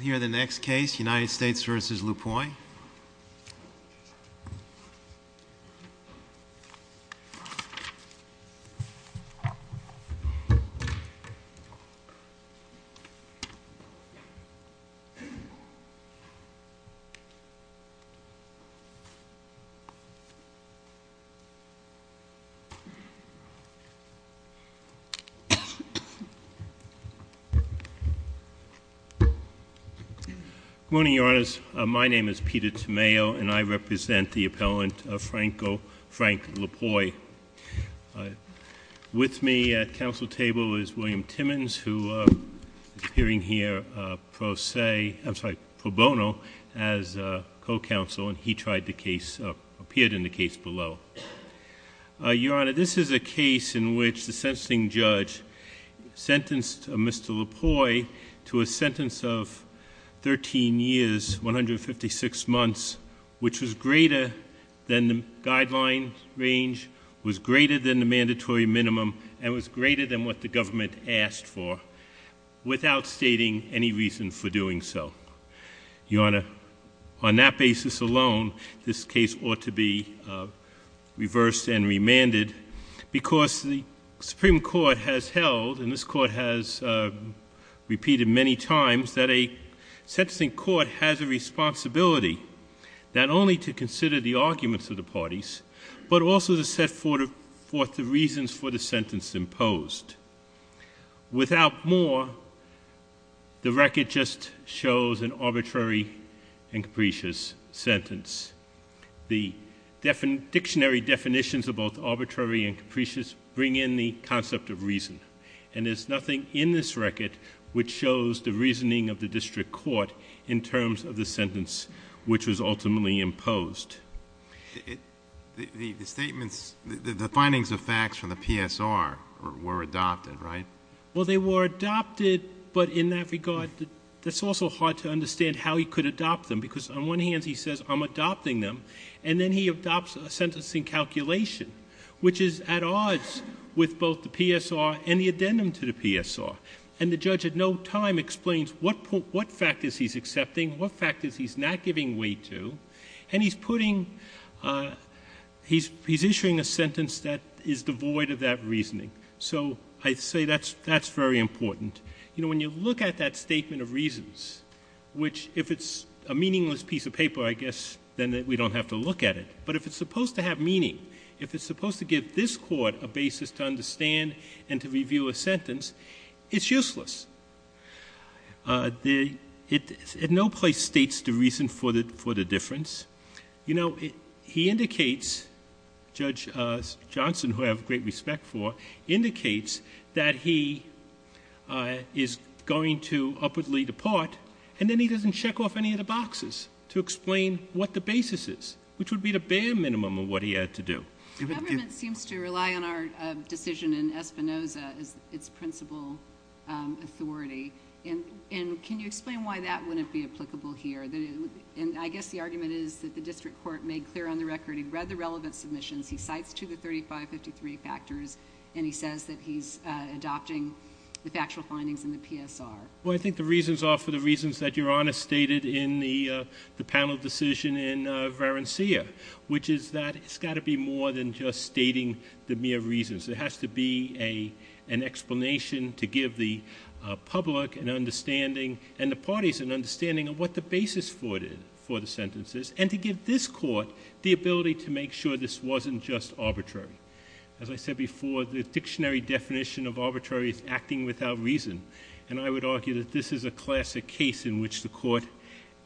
Here are the next case, United States v. Lapointe. Good morning, Your Honors. My name is Peter Tamayo and I represent the appellant Frank Lapointe. With me at council table is William Timmons, who is appearing here pro bono as co-counsel and he appeared in the case below. Your Honor, this is a case in which the sentencing judge sentenced Mr. Lapointe to a sentence of 13 years, 156 months, which was greater than the guideline range, was greater than the mandatory minimum, and was greater than what the government asked for without stating any reason for doing so. Your Honor, on that basis alone, this case ought to be reversed and remanded because the Supreme Court has held, and this Court has repeated many times, that a sentencing court has a responsibility not only to consider the arguments of the parties, but also to set forth the reasons for the sentence imposed. Without more, the record just shows an arbitrary and capricious sentence. The dictionary definitions of both arbitrary and capricious bring in the concept of reason, and there's nothing in this record which shows the reasoning of the district court in terms of the sentence which was ultimately imposed. The statements, the findings of facts from the PSR were adopted, right? Well, they were adopted, but in that regard, it's also hard to understand how he could adopt them because on one hand he says, I'm adopting them, and then he adopts a sentencing calculation, which is at odds with both the PSR and the addendum to the PSR. And the judge at no time explains what factors he's accepting, what factors he's not giving weight to, and he's putting, he's issuing a sentence that is devoid of that reasoning. So I say that's very important. You know, when you look at that statement of reasons, which if it's a meaningless piece of paper, I guess, then we don't have to look at it. But if it's supposed to have meaning, if it's supposed to give this Court a basis to understand and to review a sentence, it's useless. It at no place states the reason for the difference. You know, he indicates, Judge Johnson, who I have great respect for, indicates that he is going to upwardly depart, and then he doesn't check off any of the boxes to explain what the basis is, which would be the bare minimum of what he had to do. The government seems to rely on our decision in Espinoza as its principal authority. And can you explain why that wouldn't be applicable here? And I guess the argument is that the district court made clear on the record he read the relevant submissions, he cites two of the 3553 factors, and he says that he's adopting the factual findings in the PSR. Well, I think the reasons are for the reasons that Your Honor stated in the panel decision in Varencia, which is that it's got to be more than just stating the mere reasons. There has to be an explanation to give the public an understanding and the parties an understanding of what the basis for the sentence is, and to give this Court the ability to make sure this wasn't just arbitrary. As I said before, the dictionary definition of arbitrary is acting without reason. And I would argue that this is a classic case in which the Court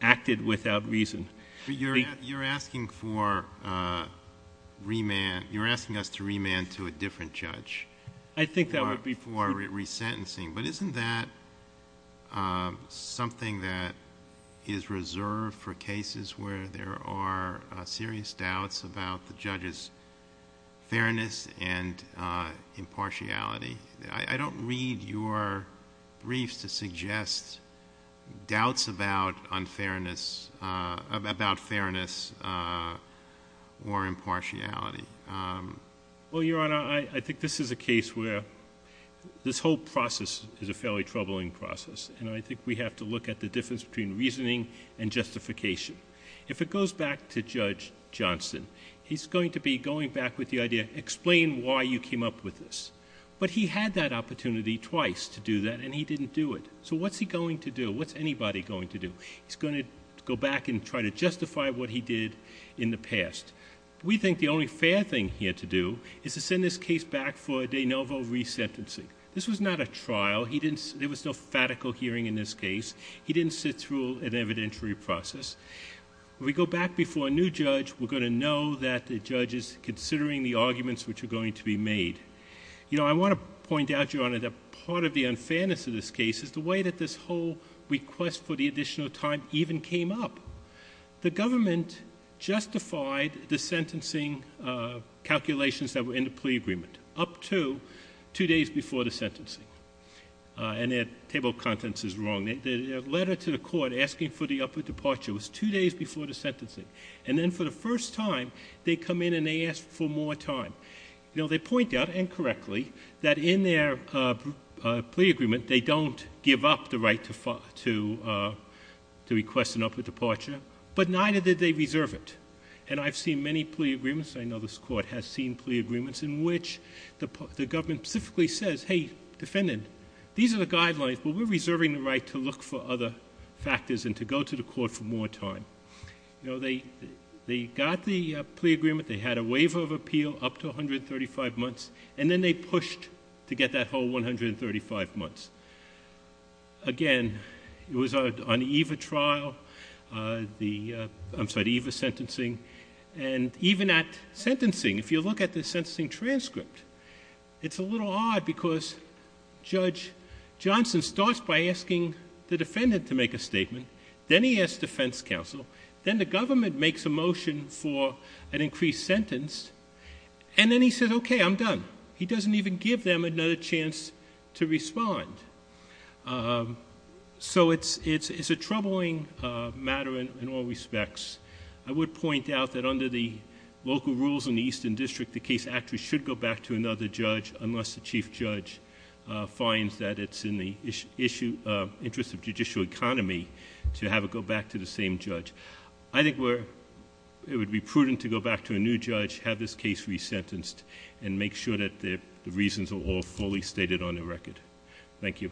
acted without reason. But you're asking for remand... you're asking us to remand to a different judge. I think that would be... For resentencing. But isn't that something that is reserved for cases where there are serious doubts about the judge's fairness and impartiality? I don't read your briefs to suggest doubts about fairness or impartiality. Well, Your Honor, I think this is a case where this whole process is a fairly troubling process, and I think we have to look at the difference between reasoning and justification. If it goes back to Judge Johnson, he's going to be going back with the idea, explain why you came up with this. But he had that opportunity twice to do that, and he didn't do it. So what's he going to do? What's anybody going to do? He's going to go back and try to justify what he did in the past. We think the only fair thing here to do is to send this case back for de novo resentencing. This was not a trial. There was no fatical hearing in this case. He didn't sit through an evidentiary process. We go back before a new judge, we're going to know that the judge is considering the You know, I want to point out, Your Honor, that part of the unfairness of this case is the way that this whole request for the additional time even came up. The government justified the sentencing calculations that were in the plea agreement up to two days before the sentencing, and their table of contents is wrong. Their letter to the court asking for the upper departure was two days before the sentencing, and then for the first time, they come in and they ask for more time. You know, they point out, and correctly, that in their plea agreement, they don't give up the right to request an upper departure, but neither did they reserve it. And I've seen many plea agreements, I know this court has seen plea agreements in which the government specifically says, hey, defendant, these are the guidelines, but we're reserving the right to look for other factors and to go to the court for more time. You know, they got the plea agreement, they had a waiver of appeal up to 135 months, and then they pushed to get that whole 135 months. Again, it was on EVA trial, the... I'm sorry, the EVA sentencing, and even at sentencing, if you look at the sentencing transcript, it's a little odd because Judge Johnson starts by asking the defendant to make a statement, then he asks defense counsel, then the government makes a motion for an increased sentence, and then he says, okay, I'm done. He doesn't even give them another chance to respond. So it's a troubling matter in all respects. I would point out that under the local rules in the Eastern District, the case actually should go back to another judge unless the chief judge finds that it's in the interest of judicial economy to have it go back to the same judge. I think it would be prudent to go back to a new judge, have this case re-sentenced, and make sure that the reasons are all fully stated on the record. Thank you.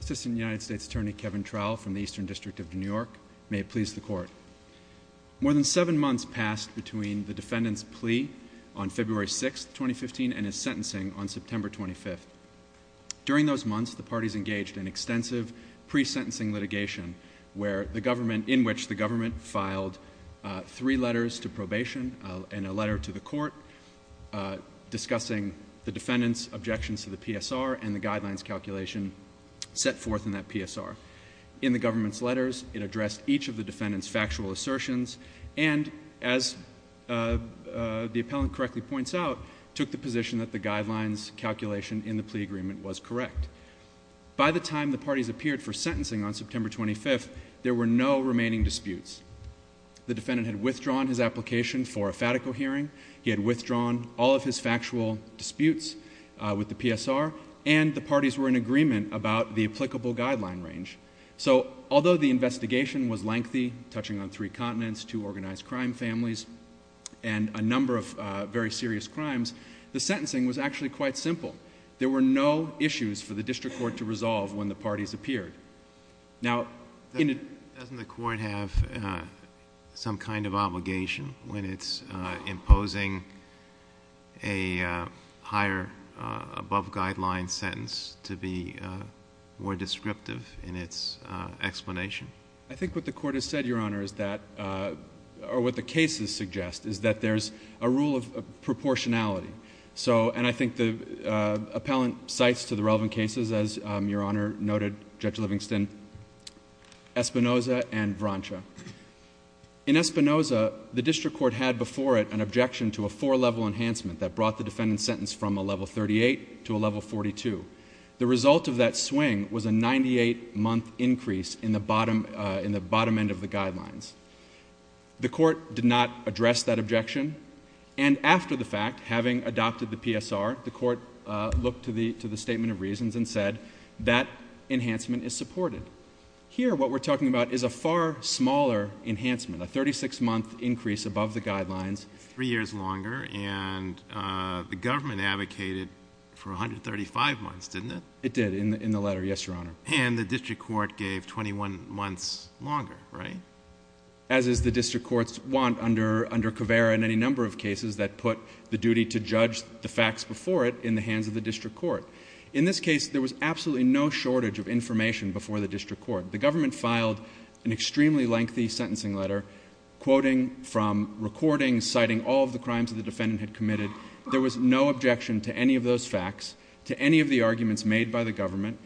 Assistant United States Attorney Kevin Trowell from the Eastern District of New York. May it please the Court. More than seven months passed between the defendant's plea on February 6, 2015, and his sentencing on September 25. During those months, the parties engaged in extensive pre-sentencing litigation in which the government filed three letters to probation and a letter to the court discussing the defendant's objections to the PSR and the guidelines calculation set forth in that PSR. In the government's letters, it addressed each of the defendant's factual assertions, and as the appellant correctly points out, took the position that the guidelines calculation in the plea agreement was correct. By the time the parties appeared for sentencing on September 25, there were no remaining disputes. The defendant had withdrawn his application for a fatical hearing, he had withdrawn all of his factual disputes with the PSR, and the parties were in agreement about the applicable guideline range. So although the investigation was lengthy, touching on three continents, two organized serious crimes, the sentencing was actually quite simple. There were no issues for the district court to resolve when the parties appeared. Now, in a- Doesn't the court have some kind of obligation when it's imposing a higher above guideline sentence to be more descriptive in its explanation? I think what the court has said, Your Honor, is that, or what the cases suggest, is that there's a rule of proportionality. So and I think the appellant cites to the relevant cases, as Your Honor noted, Judge Livingston, Espinoza and Vrancha. In Espinoza, the district court had before it an objection to a four-level enhancement that brought the defendant's sentence from a level 38 to a level 42. The result of that swing was a 98-month increase in the bottom end of the guidelines. The court did not address that objection. And after the fact, having adopted the PSR, the court looked to the Statement of Reasons and said that enhancement is supported. Here what we're talking about is a far smaller enhancement, a 36-month increase above the guidelines. Three years longer, and the government advocated for 135 months, didn't it? It did, in the letter, yes, Your Honor. And the district court gave 21 months longer, right? As is the district court's want under Caveira and any number of cases that put the duty to judge the facts before it in the hands of the district court. In this case, there was absolutely no shortage of information before the district court. The government filed an extremely lengthy sentencing letter, quoting from recordings citing all of the crimes that the defendant had committed. There was no objection to any of those facts, to any of the arguments made by the government,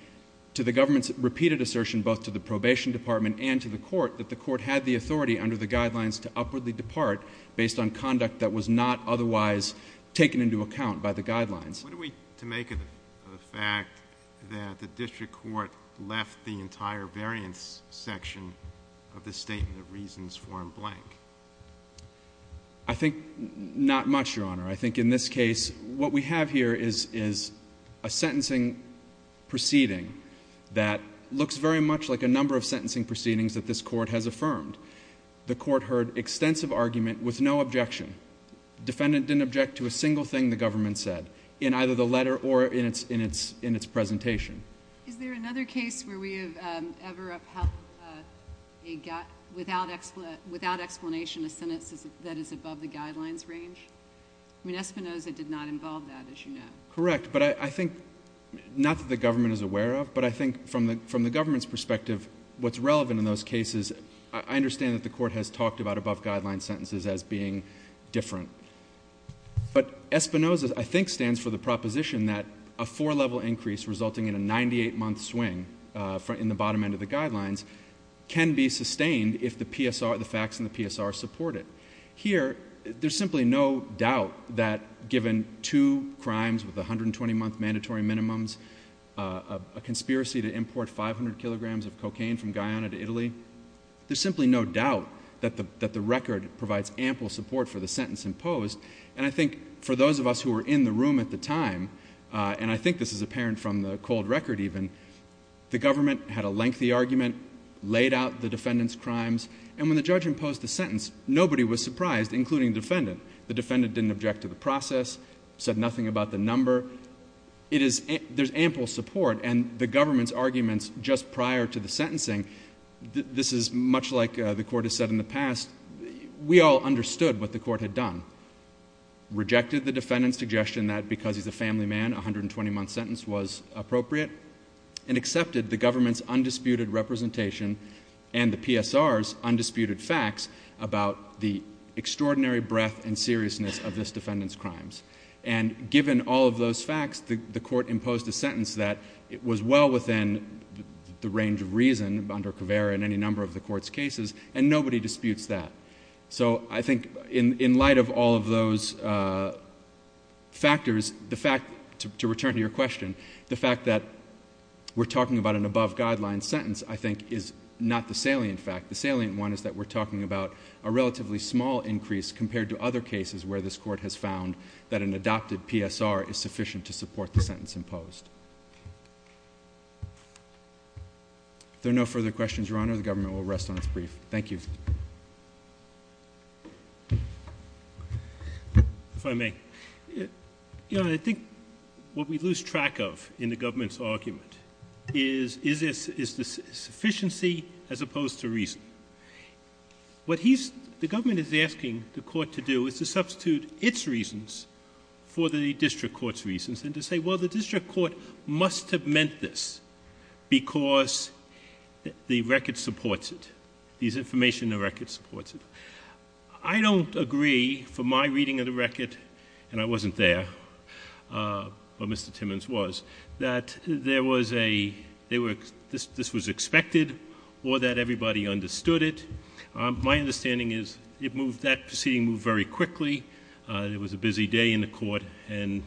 to the government's repeated assertion both to the probation department and to the court that the court had the authority under the guidelines to upwardly depart based on conduct that was not otherwise taken into account by the guidelines. What do we make of the fact that the district court left the entire variance section of the Statement of Reasons form blank? I think not much, Your Honor. I think in this case, what we have here is a sentencing proceeding that looks very much like a number of sentencing proceedings that this court has affirmed. The court heard extensive argument with no objection. Defendant didn't object to a single thing the government said in either the letter or in its presentation. Is there another case where we have ever upheld, without explanation, a sentence that is above the guidelines range? I mean, Espinoza did not involve that, as you know. Correct. But I think, not that the government is aware of, but I think from the government's perspective, what's relevant in those cases, I understand that the court has talked about above-guideline sentences as being different. But Espinoza, I think, stands for the proposition that a four-level increase resulting in a 98-month swing in the bottom end of the guidelines can be sustained if the facts in the PSR support it. Here, there's simply no doubt that given two crimes with 120-month mandatory minimums, a conspiracy to import 500 kilograms of cocaine from Guyana to Italy, there's simply no doubt that the record provides ample support for the sentence imposed. And I think for those of us who were in the room at the time, and I think this is apparent from the cold record even, the government had a lengthy argument, laid out the defendant's case, and the court was surprised, including the defendant. The defendant didn't object to the process, said nothing about the number. There's ample support, and the government's arguments just prior to the sentencing, this is much like the court has said in the past, we all understood what the court had done. Rejected the defendant's suggestion that because he's a family man, a 120-month sentence was appropriate, and accepted the government's undisputed representation and the PSR's undisputed facts about the extraordinary breadth and seriousness of this defendant's crimes. And given all of those facts, the court imposed a sentence that was well within the range of reason under Caveira in any number of the court's cases, and nobody disputes that. So I think in light of all of those factors, the fact, to return to your question, the fact that we're talking about an above-guideline sentence, I think, is not the salient fact. The salient one is that we're talking about a relatively small increase compared to other cases where this court has found that an adopted PSR is sufficient to support the sentence imposed. If there are no further questions, Your Honor, the government will rest on its brief. Thank you. If I may, Your Honor, I think what we lose track of in the government's argument is, is this sufficiency as opposed to reason. The government is asking the court to do is to substitute its reasons for the district court's reasons, and to say, well, the district court must have meant this because the record supports it. These information in the record supports it. I don't agree, from my reading of the record, and I wasn't there, but Mr. Timmons was, that there was a... this was expected, or that everybody understood it. My understanding is it moved... that proceeding moved very quickly, there was a busy day in the court, and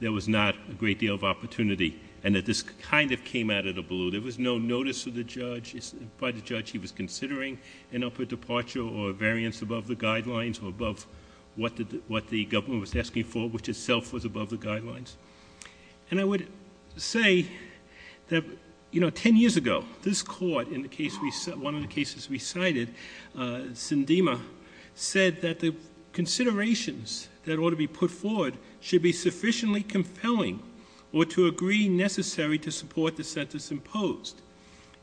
there was not a great deal of opportunity, and that this kind of came out of the blue. There was no notice of the judge... by the judge, he was considering an upper departure or a variance above the guidelines, or above what the government was asking for, which itself was above the guidelines. And I would say that, you know, ten years ago, this court, in the case we... one of the cases we cited, Sindema, said that the considerations that ought to be put forward should be sufficiently compelling or to agree necessary to support the sentence imposed.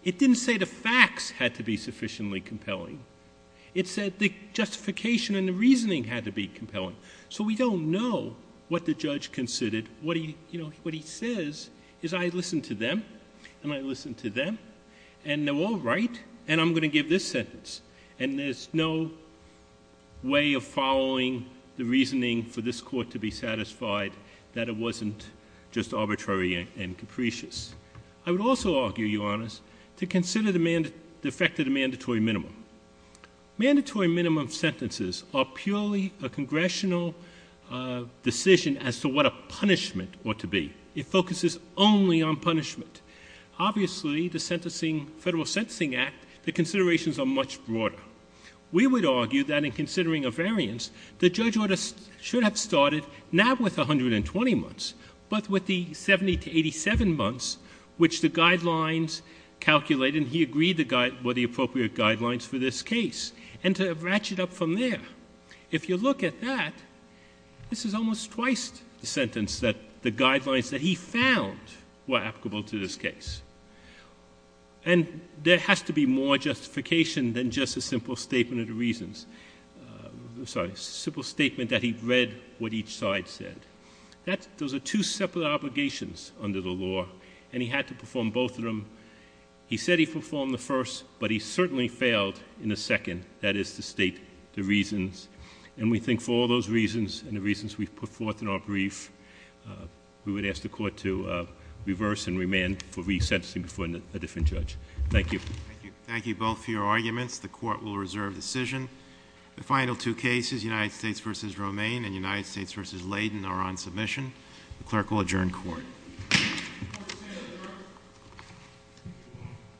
It didn't say the facts had to be sufficiently compelling. It said the justification and the reasoning had to be compelling. So we don't know what the judge considered. What he says is, I listened to them, and I listened to them, and they're all right, and I'm going to give this sentence. And there's no way of following the reasoning for this court to be satisfied that it wasn't just arbitrary and capricious. I would also argue, Your Honors, to consider the effect of the mandatory minimum. Mandatory minimum sentences are purely a congressional decision as to what a punishment ought to be. It focuses only on punishment. Obviously, the Federal Sentencing Act, the considerations are much broader. We would argue that in considering a variance, the judge ought to... should have started not with 120 months, but with the 70 to 87 months, which the guidelines calculated, and agreed were the appropriate guidelines for this case, and to ratchet up from there. If you look at that, this is almost twice the sentence that the guidelines that he found were applicable to this case. And there has to be more justification than just a simple statement of the reasons. Sorry, simple statement that he read what each side said. Those are two separate obligations under the law, and he had to perform both of them. He said he performed the first, but he certainly failed in the second. That is to state the reasons. And we think for all those reasons, and the reasons we've put forth in our brief, we would ask the Court to reverse and remand for re-sentencing before a different judge. Thank you. Thank you. Thank you both for your arguments. The Court will reserve decision. The final two cases, United States v. Romaine and United States v. Layden, are on submission. The Clerk will adjourn court.